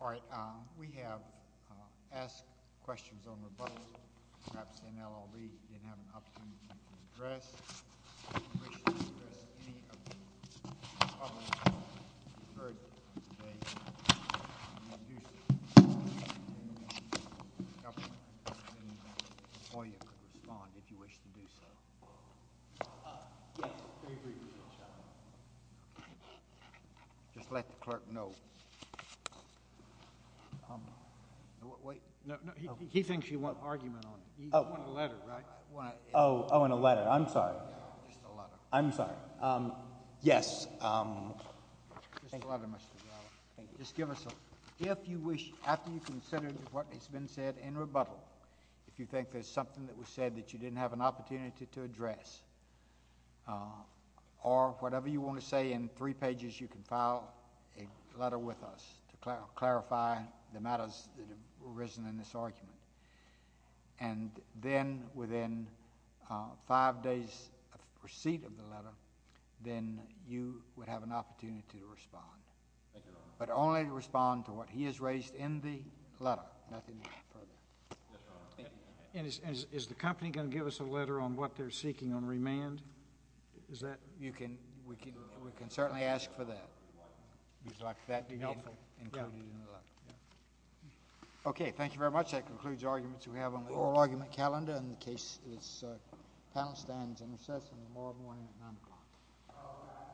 All right. We have asked questions on rebuttal. Perhaps in LLB you didn't have an opportunity to address. If you wish to address any of the comments that you heard today, you may do so. We can take a motion and a second. Or you could respond if you wish to do so. Yes, very briefly, Your Honor. Just let the clerk know. Wait. He thinks you want argument on it. You want a letter, right? Oh, in a letter. I'm sorry. Just a letter. I'm sorry. Yes. Just a letter, Mr. Gallo. Thank you. Just give us a letter. If you wish, after you've considered what has been said in rebuttal, if you think there's something that was said that you didn't have an opportunity to address, or whatever you want to say in three pages, you can file a letter with us to clarify the matters that have arisen in this argument. And then within five days of receipt of the letter, then you would have an opportunity to respond. Thank you, Your Honor. But only to respond to what he has raised in the letter, nothing more. Yes, Your Honor. And is the company going to give us a letter on what they're seeking on remand? You can. We can certainly ask for that. We'd like that to be included in the letter. Okay. Thank you very much. That concludes arguments we have on the oral argument calendar. And the panel stands in recess until tomorrow morning at 9 o'clock.